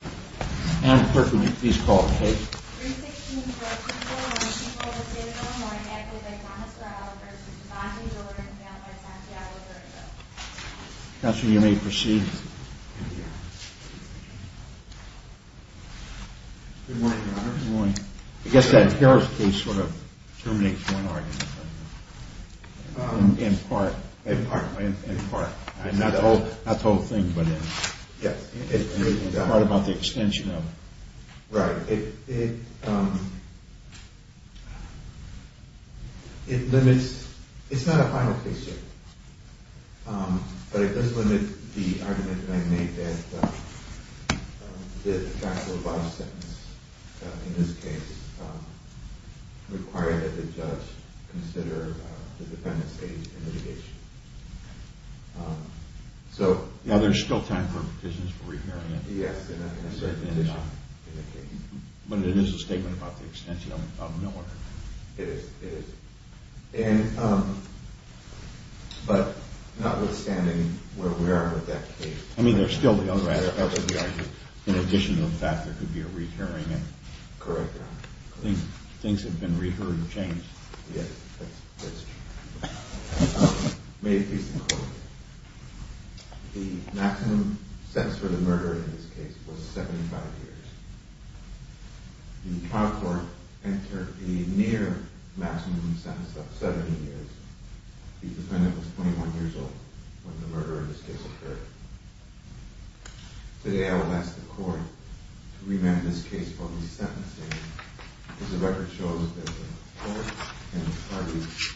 And clerk, would you please call the case? 316 for a people when a people with visual or a medical diagnosis are out of their system. Bond v. Jordan v. Santiago, Puerto Rico. Counselor, you may proceed. Good morning, Your Honor. Good morning. I guess that Harris case sort of terminates one argument, doesn't it? In part. In part. In part. Not the whole thing, but in... Yes. In part about the extension of... Right. It... It limits... It's not a final case, sir. But it does limit the argument that I made that the fact of the body sentence in this case required that the judge consider the defendant's age and litigation. So... Now, there's still time for petitions for re-hearing it. Yes. But it is a statement about the extension of Miller. It is. It is. And... But notwithstanding where we are with that case... I mean, there's still the other argument. In addition to the fact there could be a re-hearing. Correct, Your Honor. Things have been re-heard and changed. Yes, that's true. May it please the Court. The maximum sentence for the murderer in this case was 75 years. The trial court entered a near maximum sentence of 70 years. The defendant was 21 years old when the murder in this case occurred. Today, I will ask the Court to revamp this case for re-sentencing because the record shows that the Court and the parties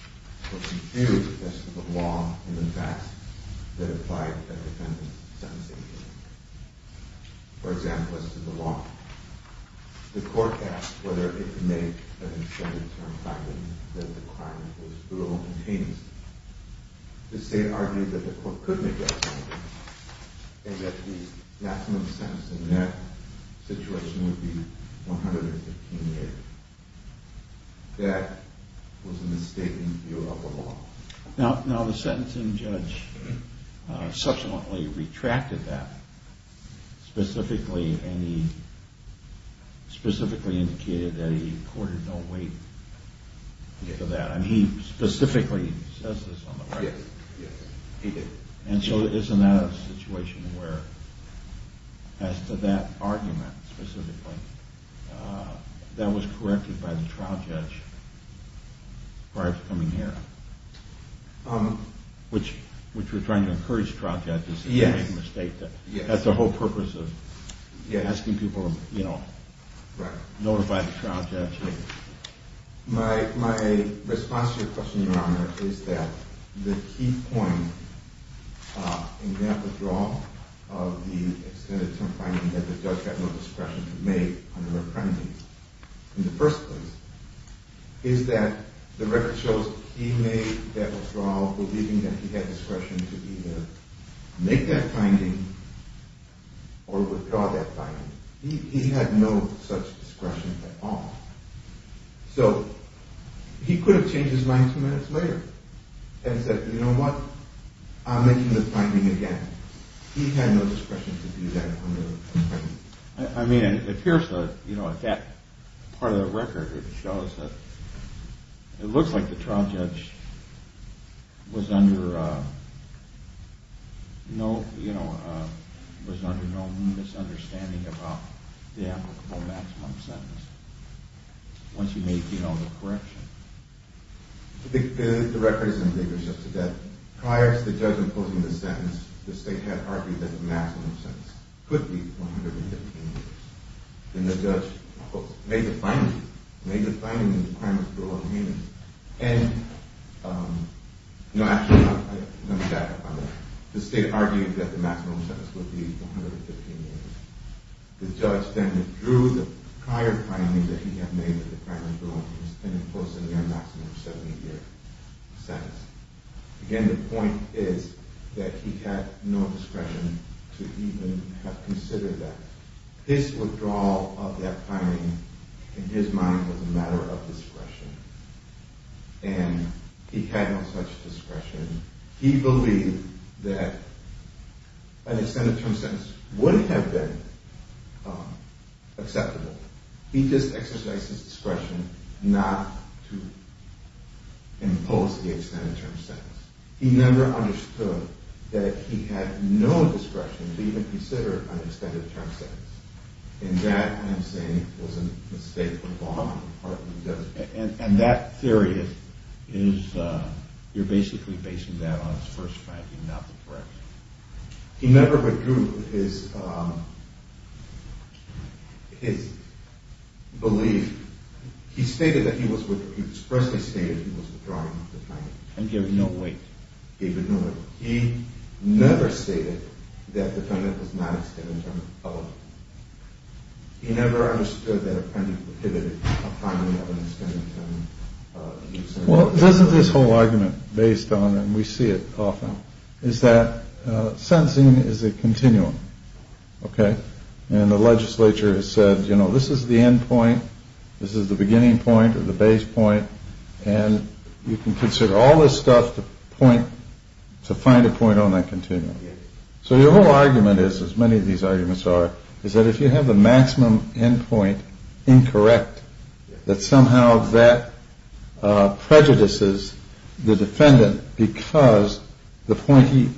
were confused as to the law and the facts that applied to the defendant's sentencing. For example, as to the law. The Court asked whether it could make an extended term finding that the crime was brutal and heinous. The State argued that the Court couldn't make that finding and that the maximum sentence in that situation would be 115 years. That was a mistaken view of the law. Now, the sentencing judge subsequently retracted that. Specifically, and he specifically indicated that he courted no weight to that. I mean, he specifically says this on the record. Yes, he did. And so isn't that a situation where, as to that argument specifically, that was corrected by the trial judge prior to coming here? Which we're trying to encourage trial judges to make a mistake. That's the whole purpose of asking people to notify the trial judge. My response to your question, Your Honor, is that the key point in that withdrawal of the extended term finding that the judge had no discretion to make on the reprimanding, in the first place, is that the record shows he made that withdrawal believing that he had discretion to either make that finding or withdraw that finding. He had no such discretion at all. So, he could have changed his mind two minutes later and said, you know what, I'm making the finding again. He had no discretion to do that on the reprimanding. I mean, it appears that, you know, at that part of the record, it shows that it looks like the trial judge was under no misunderstanding about the applicable maximum sentence. Once you make, you know, the correction. The record is in big or so to death. Prior to the judge imposing the sentence, the state had argued that the maximum sentence could be 115 years. And the judge made the finding. He made the finding in the requirements for a long hearing. And, you know, actually, let me back up on that. The state argued that the maximum sentence would be 115 years. The judge then withdrew the prior finding that he had made with the primary ruling and imposed a near maximum 70-year sentence. Again, the point is that he had no discretion to even have considered that. His withdrawal of that finding, in his mind, was a matter of discretion. And he had no such discretion. He believed that an extended term sentence would have been acceptable. He just exercised his discretion not to impose the extended term sentence. He never understood that he had no discretion to even consider an extended term sentence. And that, I'm saying, was a mistake on the part of the judge. And that theory, you're basically basing that on his first finding, not the correct one. He never withdrew his belief. He expressly stated he was withdrawing the finding. And gave it no weight. Gave it no weight. He never stated that the finding was not extended term. He never understood that a penalty could be pivoted upon an extended term. Well, isn't this whole argument based on, and we see it often, is that sentencing is a continuum. Okay? And the legislature has said, you know, this is the end point. This is the beginning point or the base point. And you can consider all this stuff to point, to find a point on that continuum. So your whole argument is, as many of these arguments are, is that if you have the maximum end point incorrect, that somehow that prejudices the defendant because the point he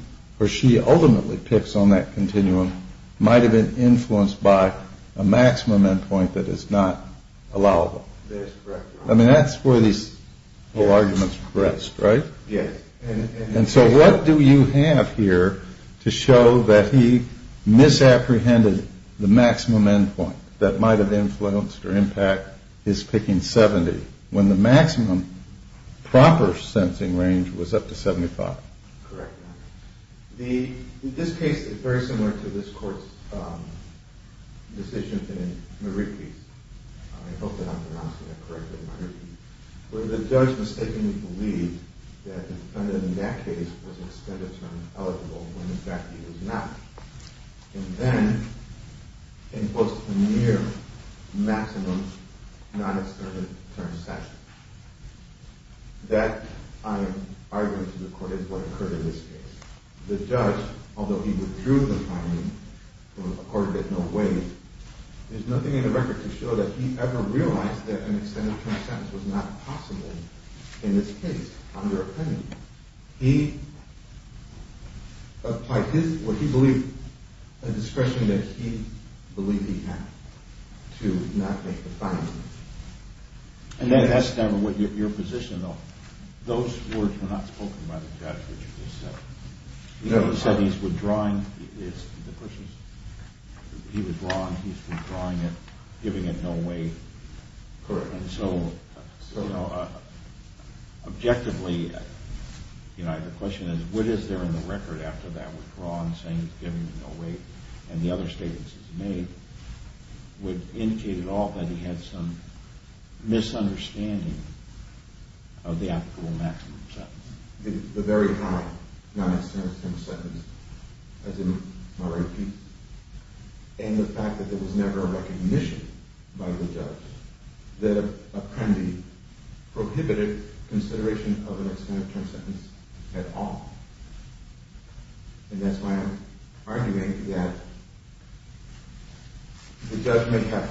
or she ultimately picks on that continuum might have been influenced by a maximum end point that is not allowable. I mean, that's where these whole arguments rest, right? Yes. And so what do you have here to show that he misapprehended the maximum end point that might have influenced or impact his picking 70 when the maximum proper sentencing range was up to 75? Correct. In this case, it's very similar to this court's decision in Marikis. I hope that I'm pronouncing that correctly. Where the judge mistakenly believed that the defendant in that case was extended term eligible when, in fact, he was not. And then imposed a near maximum non-extended term sanction. That, I argue to the court, is what occurred in this case. The judge, although he withdrew the finding from a court that no waived, there's nothing in the record to show that he ever realized that an extended term sentence was not possible in this case under a penalty. He believed a discretion that he believed he had to not make the finding. And that's your position, though. Those words were not spoken by the judge, which you just said. He said he's withdrawing. He was wrong. He's withdrawing it, giving it no waive. Correct. And so, you know, objectively, you know, the question is, what is there in the record after that withdrawal saying he's giving it no waive? And the other statements he's made would indicate at all that he had some misunderstanding of the actual maximum sentence. The very high non-extended term sentence, as in my repeat. And the fact that there was never a recognition by the judge that a penalty prohibited consideration of an extended term sentence at all. And that's why I'm arguing that the judge may have,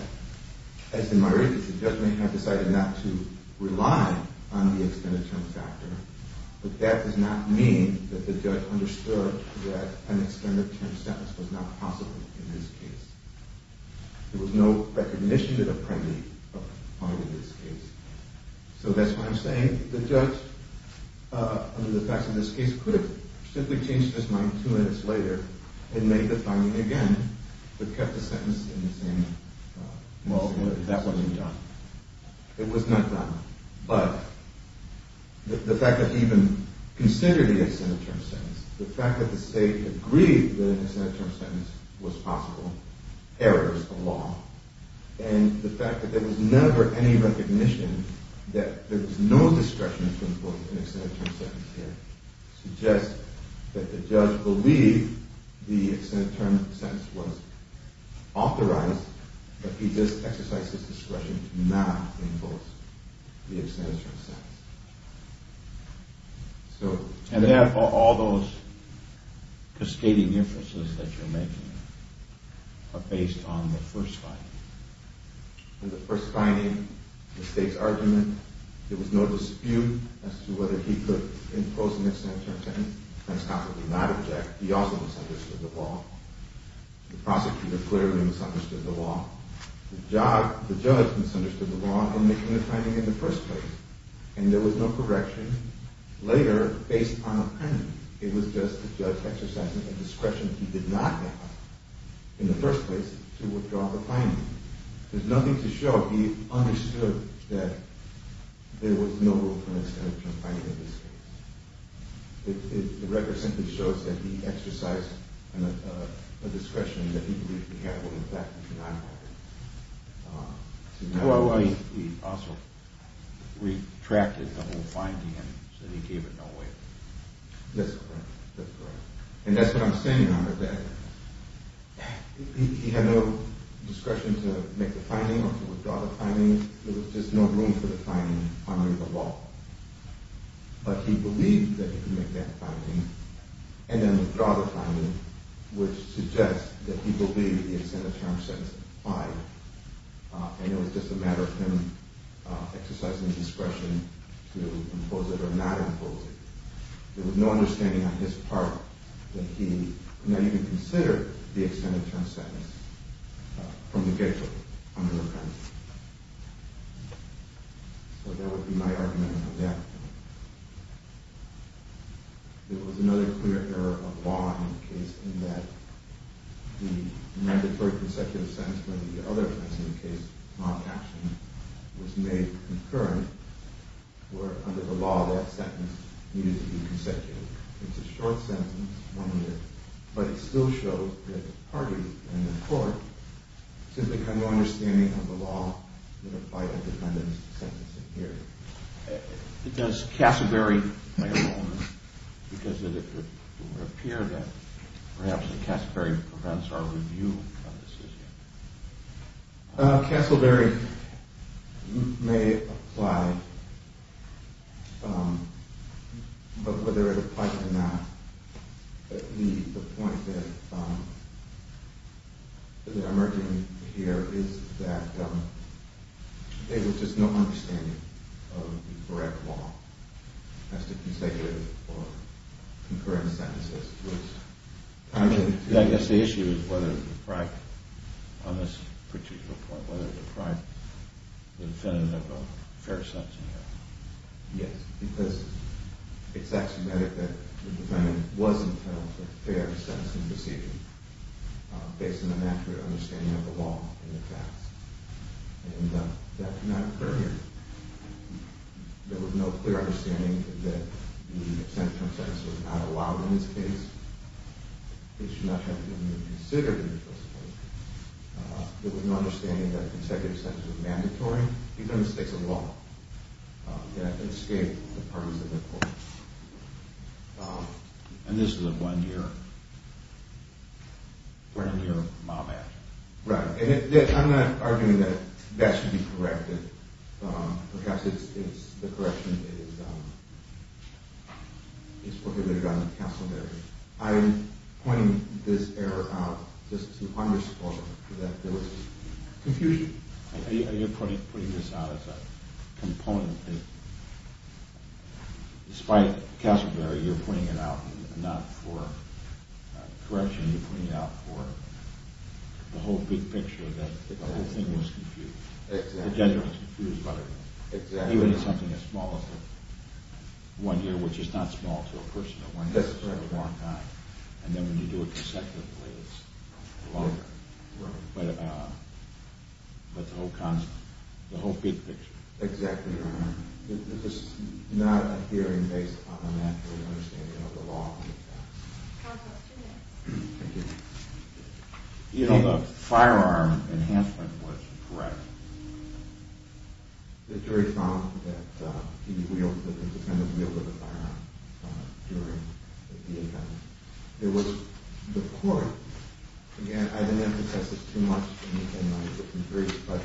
as in my repeats, the judge may have decided not to rely on the extended term factor, but that does not mean that the judge understood that an extended term sentence was not possible in this case. There was no recognition of a penalty in this case. So that's why I'm saying the judge, under the facts of this case, could have simply changed his mind two minutes later and made the finding again, but kept the sentence in the same mold. That wasn't done. It was not done. But the fact that he even considered the extended term sentence, the fact that the state agreed that an extended term sentence was possible, errors the law. And the fact that there was never any recognition that there was no discretion to impose an extended term sentence here suggests that the judge believed the extended term sentence was authorized, but he just exercised his discretion to not impose the extended term sentence. And therefore, all those cascading inferences that you're making are based on the first finding. In the first finding, the state's argument, there was no dispute as to whether he could impose an extended term sentence, and Scott would not object. He also misunderstood the law. The prosecutor clearly misunderstood the law. The judge misunderstood the law in making the finding in the first place. And there was no correction later based on a premonition. It was just the judge exercising a discretion he did not have in the first place to withdraw the finding. There's nothing to show he understood that there was no rule for an extended term finding in this case. The record simply shows that he exercised a discretion that he believed he had when, in fact, he did not have it. He also retracted the whole finding and said he gave it no weight. That's correct. That's correct. And that's what I'm saying on the fact that he had no discretion to make the finding or to withdraw the finding. There was just no room for the finding under the law. But he believed that he could make that finding and then withdraw the finding, which suggests that he believed the extended term sentence applied. And it was just a matter of him exercising discretion to impose it or not impose it. There was no understanding on his part that he not even considered the extended term sentence from the gatekeeper on an offense. So that would be my argument on that. There was another clear error of law in the case in that the mandatory consecutive sentence for the other offense in the case, non-captioning, was made concurrent, where under the law that sentence needed to be consecutive. It's a short sentence, but it still shows that hardly in the court simply had no understanding of the law that applied a dependent sentencing here. Does Castleberry play a role in this? Because it would appear that perhaps Castleberry prevents our review of this issue. Castleberry may apply, but whether it applies or not, the point that is emerging here is that there was just no understanding of the correct law as to consecutive or concurrent sentences. I guess the issue is whether, on this particular point, whether it deprived the defendant of a fair sentencing here. Yes, because it's axiomatic that the defendant was entitled to a fair sentencing decision based on an accurate understanding of the law and the facts. And that cannot occur here. There was no clear understanding that the extended term sentence was not allowed in this case. It should not have been even considered in this case. These are mistakes of the law that escape the parties of the court. And this is a one-year, one-year mob act. Right, and I'm not arguing that that should be corrected. Perhaps the correction is prohibited on Castleberry. I'm pointing this error out just to underscore that there was confusion. You're putting this out as a component that, despite Castleberry, you're putting it out not for correction, you're putting it out for the whole big picture that the whole thing was confused. Exactly. The judge was confused about everything. Exactly. Even something as small as a one-year, which is not small to a personal one, and then when you do it consecutively, it's longer. Right. But the whole concept, the whole big picture. Exactly, Your Honor. This is not a hearing based on an accurate understanding of the law and the facts. Counsel, two minutes. Thank you. You know, the firearm enhancement was correct. The jury found that he wielded, that the defendant wielded the firearm during the event. There was, the court, again, I didn't emphasize this too much in my brief, but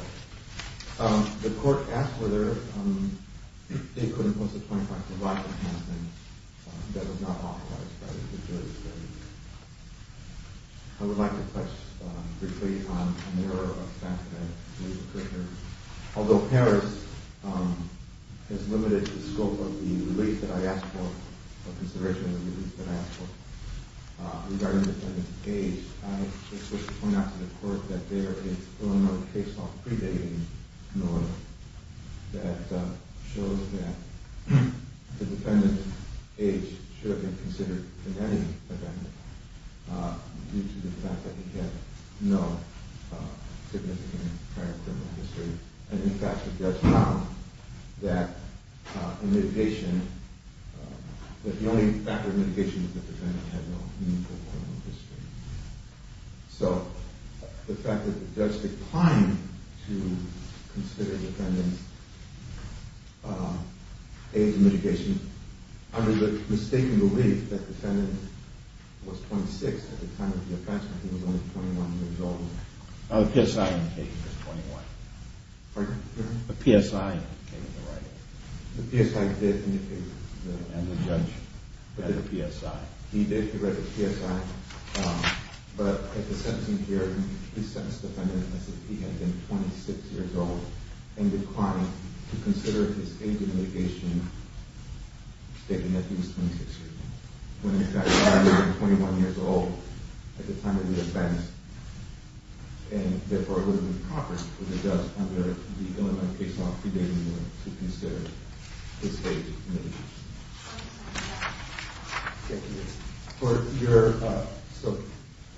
the court asked whether they could impose a 25 percent life enhancement. That was not authorized by the jury. I would like to touch briefly on an error of fact that I believe occurred here. Although Harris has limited the scope of the release that I asked for, of consideration of the release that I asked for, regarding the defendant's age, I was supposed to point out to the court that there is Illinois case law predating Illinois that shows that the defendant's age should have been considered in any event due to the fact that he had no significant prior criminal history. And, in fact, the judge found that the only factor of mitigation was that the defendant had no meaningful criminal history. So, the fact that the judge declined to consider the defendant's age of mitigation, under the mistaken belief that the defendant was 26 at the time of the offense when he was only 21 years old. The PSI indication was 21. Pardon? The PSI indication was 21. The PSI did indicate that. And the judge had the PSI. He did, he read the PSI. But, at the sentencing hearing, he sentenced the defendant as if he had been 26 years old and declined to consider his age of mitigation, stating that he was 26 years old. When, in fact, the defendant was only 21 years old at the time of the offense. And, therefore, it would have been proper for the judge under the Illinois case law predating him to consider his age of mitigation. Thank you. For your, uh, so,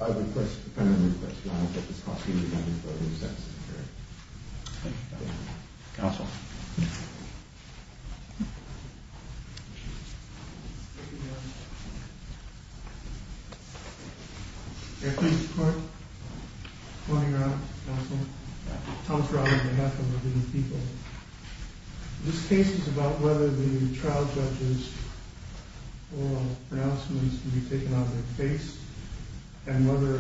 I request, the defendant requests to know if it's possible for him to go to the sentencing hearing. Thank you. Counsel? Yes. Thank you, Your Honor. May I please report? Go ahead, Your Honor. Counsel? Yeah. Thomas Robbins, on behalf of the Indian people. This case is about whether the trial judge's oral pronouncements can be taken out of their case and whether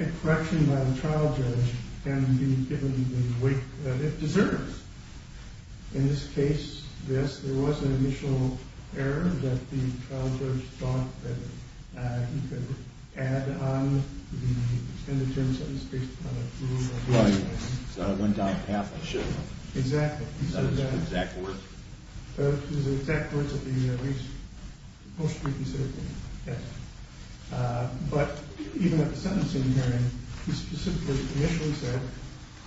a correction by the trial judge can be given the weight that it deserves. In this case, yes, there was an initial error that the trial judge thought that he could add on the extended term sentence based upon approval. Right. So, I went down the path I should have. Exactly. He said that. Is that the exact words? Those are the exact words of the, at least, most recently said. Yes. Uh, but, even at the sentencing hearing, he specifically initially said,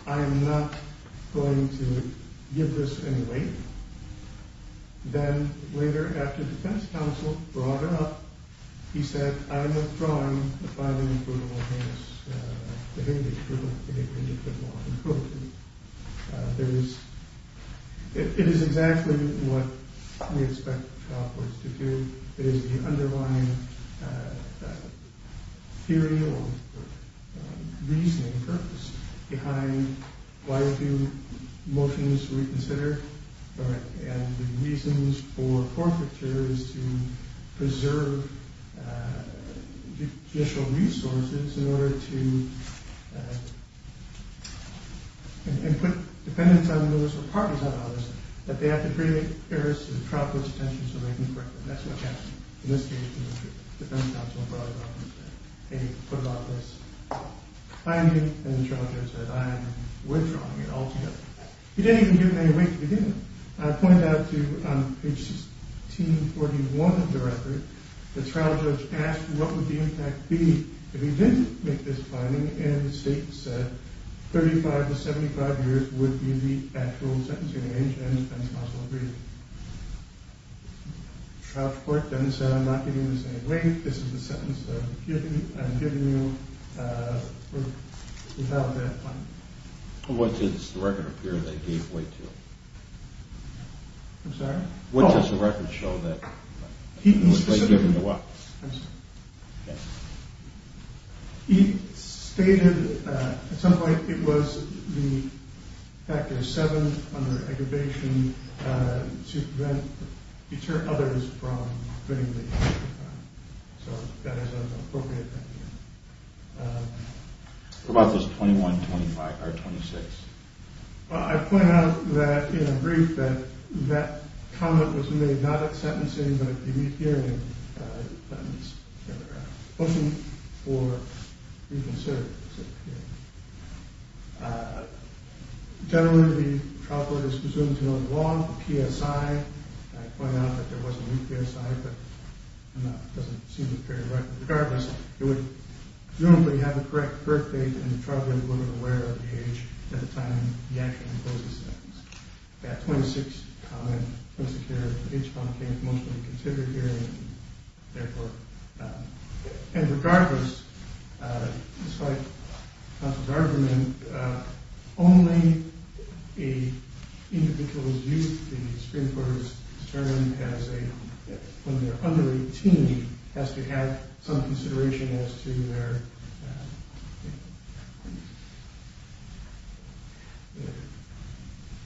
I am not going to give this any weight. Then, later, after defense counsel brought it up, he said, I am withdrawing the filing approval of his, uh, prohibited approval. Uh, there is, it is exactly what we expect trial courts to do. It is the underlying, uh, theory or reasoning purpose behind why do motions reconsider, and the reasons for forfeiture is to preserve judicial resources in order to, uh, and put dependents on those or partners on those, that they have to create errors to the trial court's attention so they can correct them. That's what happened. In this case, the defense counsel brought it up and said, hey, what about this? I am going to, and the trial judge said, I am withdrawing it altogether. He didn't even give him any weight. He didn't. I pointed out to, um, page 1641 of the record, the trial judge asked what would the impact be if he didn't make this finding, and the state said 35 to 75 years would be the actual sentencing age, and the defense counsel agreed. The trial court then said, I am not giving this any weight. This is a sentence that I am giving you, uh, without that finding. What does the record appear to give weight to? I'm sorry? What does the record show that? He stated, uh, at some point it was the factor of seven under aggravation, uh, to prevent future others from fitting the age requirement. So that is an appropriate thing to do. What about those 21, 25, or 26? Well, I pointed out that in a brief that that comment was made not at sentencing, but at the re-hearing, uh, that means that they're looking for reconsideration. Uh, generally the trial court is presumed to know the law, the PSI. I pointed out that there was a new PSI, but it doesn't seem to carry a record. But regardless, it would generally have the correct birth date, and the trial court would be aware of the age at the time the action imposes the sentence. That 26 comment was the care of the age bound case mostly considered here, and therefore, uh, and regardless, uh, despite counsel's argument, uh, only a individual's youth in the Supreme Court is determined as a, when they're under 18, has to have some consideration as to their, uh,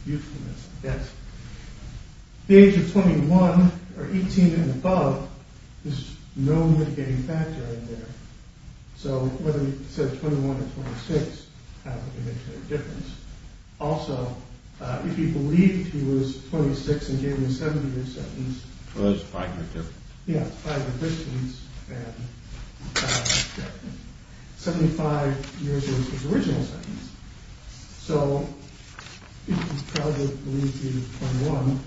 youthfulness, I guess. The age of 21, or 18 and above, is no mitigating factor in there. So whether he said 21 or 26, uh, it makes no difference. Also, uh, if he believed he was 26 and gave a 70-year sentence, yeah, it's five additions, and 75 years was his original sentence. So, if he probably believed he was 21,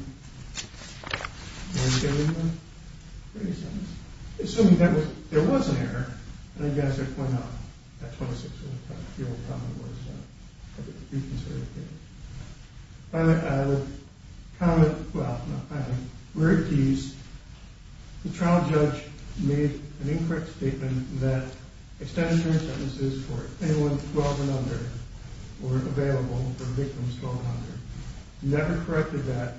assuming that there was an error, and I guess I pointed out that 26 was the old comment was, uh, reconsidered. Finally, I would comment, well, not finally, where it teased the trial judge made an incorrect statement that extenuating sentences for anyone 12 and under were available for victims 12 and under. He never corrected that,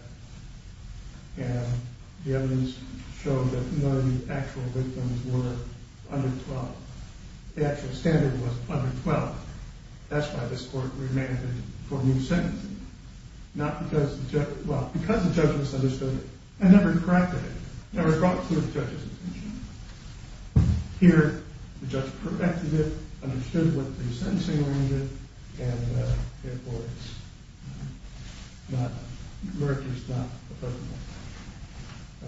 and the evidence showed that none of the actual victims were under 12. The actual standard was under 12. That's why this court remanded for new sentencing, not because the judge, well, because the judge misunderstood it and never corrected it, never brought it to the judge's attention. Here, the judge corrected it, understood what the sentencing range is, and, uh, therefore, it's not, the verdict is not appropriate. Uh,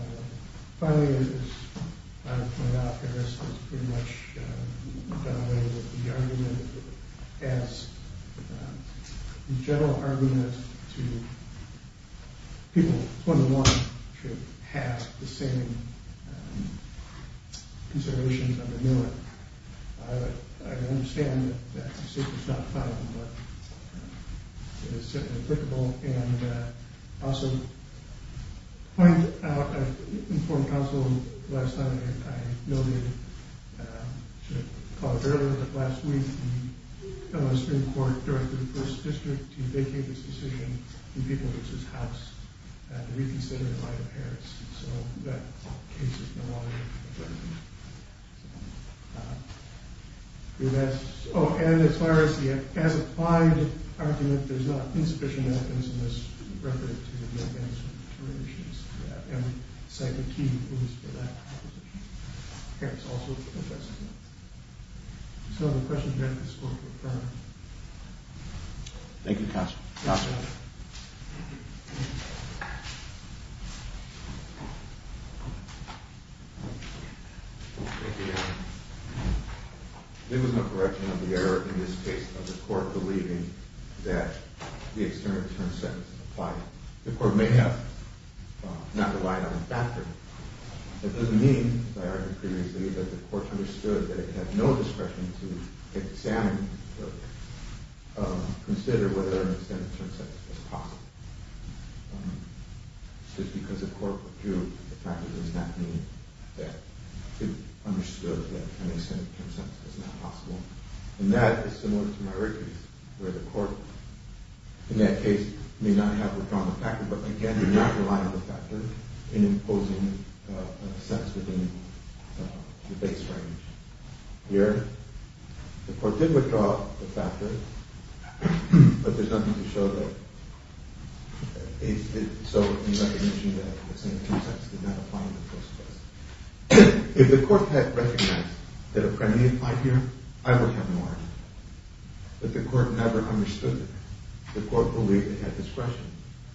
finally, as I pointed out, I guess it's pretty much done away with the argument as the general argument to people 21 should have the same considerations on the new one. I understand that that statement's not final, but it is certainly applicable, and, uh, I also pointed out, I informed counsel last night that I noted, uh, should have called earlier, but last week, the, uh, Supreme Court directed the First District to vacate this decision and people v. House to reconsider the line of heresy, so that case is no longer in the verdict. Uh, that's, oh, and as far as the as-applied argument, there's not insufficient evidence in this record to make any sort of determination as to that, and we cite the key evidence for that proposition. Here, it's also in the precedent. So the question here, this court will defer. Thank you, counsel. Counsel. Thank you. Thank you, Your Honor. There was no correction of the error in this case of the court believing that the external term sentence applied. The court may have not relied on a factor. It doesn't mean, as I argued previously, that the court understood that it had no discretion to examine or, uh, consider whether an extended term sentence was possible. Um, just because the court withdrew, it practically does not mean that it understood that an extended term sentence was not possible, and that is similar to my earlier case, where the court, in that case, may not have withdrawn the factor, but, again, did not rely on the factor in imposing a sentence within the base range. Here, the court did withdraw the factor, but there's nothing to show that it did so in recognition that the same term sentence did not apply in the first place. If the court had recognized that a penalty applied here, I would have no argument. But the court never understood it. The court believed it had discretion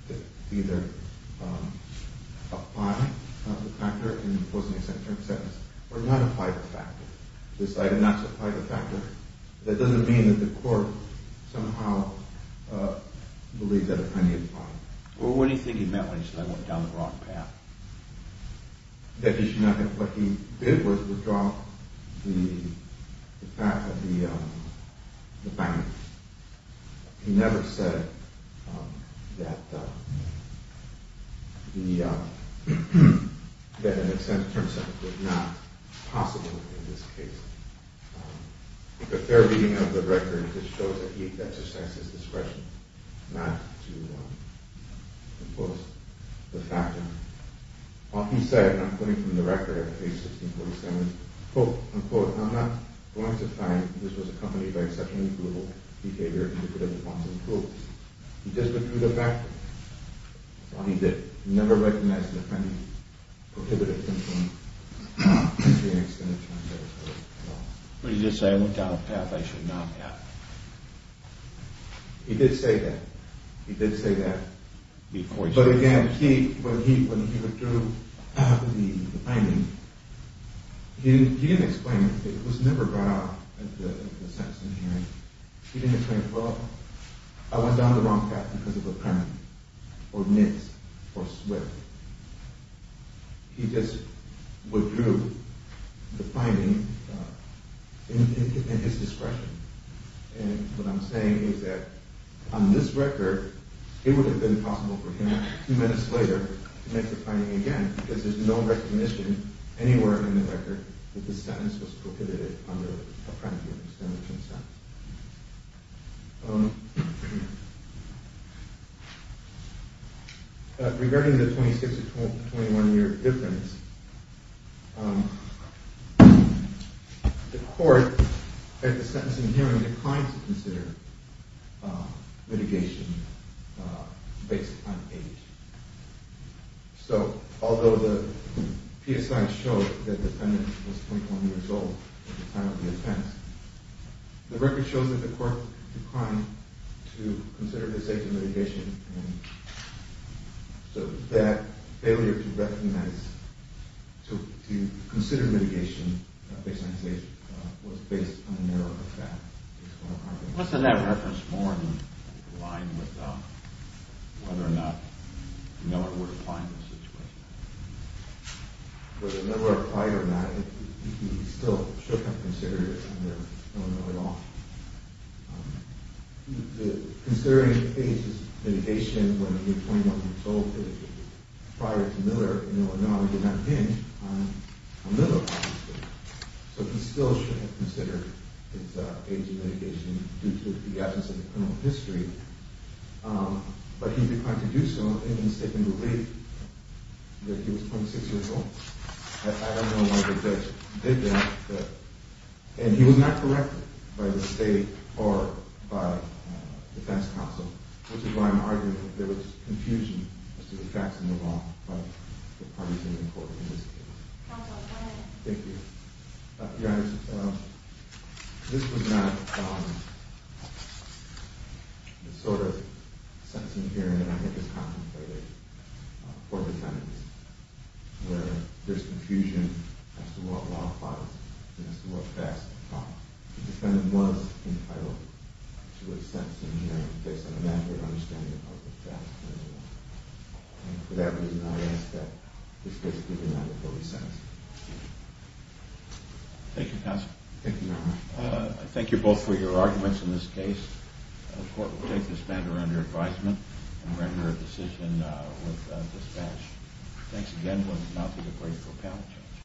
to either, um, apply the factor in imposing an extended term sentence or not apply the factor. Decided not to apply the factor. That doesn't mean that the court somehow, uh, believed that a penalty applied. Well, what do you think he meant when he said I went down the wrong path? That he should not have... What he did was withdraw the fact... the, um, the fact... He never said, um, that, um, the, um, that an extended term sentence was not possible in this case. Um, the fair reading of the record just shows that he exercised his discretion not to, um, impose the factor. While he said, and I'm quoting from the record at page 1647, quote, unquote, I'm not going to find that this was accompanied by such incrudible behavior to the point of approval. He just withdrew the fact. That's all he did. He never recognized the penalty prohibiting him from issuing an extended term sentence. What did he just say? I went down a path I should not have. He did say that. He did say that before he... But again, he, when he withdrew the finding, he didn't explain it. It was never brought up at the sentencing hearing. He didn't explain, well, I went down the wrong path because of a penalty, or nits, or sweat. He just withdrew the finding in his discretion. And what I'm saying is that on this record, it would have been possible for him two minutes later to make the finding again because there's no recognition anywhere in the record that the sentence was prohibited under a penalty of extended term sentence. Regarding the 26-21 year difference, the court at the sentencing hearing declined to consider mitigation based on age. So, although the PSI showed that the defendant was 21 years old at the time of the offense, the record shows that the court declined to consider the safety mitigation and so that failure to recognize, to consider mitigation based on age was based on a narrow effect. Wasn't that referenced more in line with whether or not Miller would apply in this situation? Whether Miller applied or not, he still shouldn't have considered it under Miller law. Considering age as mitigation when he was 21 years old prior to Miller, Miller law did not hinge on Miller law. So he still shouldn't have considered his age as mitigation due to the absence of criminal history. But he declined to do so in the statement of relief that he was 26 years old. I don't know why the judge did that. And he was not corrected by the state or by defense counsel, which is why I'm arguing that there was confusion as to the facts in the law by the parties in the court in this case. Thank you. Your Honor, this was not the sort of sentencing hearing that I think is contemplated for defendants where there's confusion as to what law applies and as to what facts apply. The defendant was entitled to a sentencing hearing based on a matter of understanding of the facts in the law. And for that reason, I ask that this case be denied a fully sentencing hearing. Thank you, counsel. Thank you, Your Honor. I thank you both for your arguments in this case. The court will take this matter under advisement and render a decision with dispatch. Thanks again.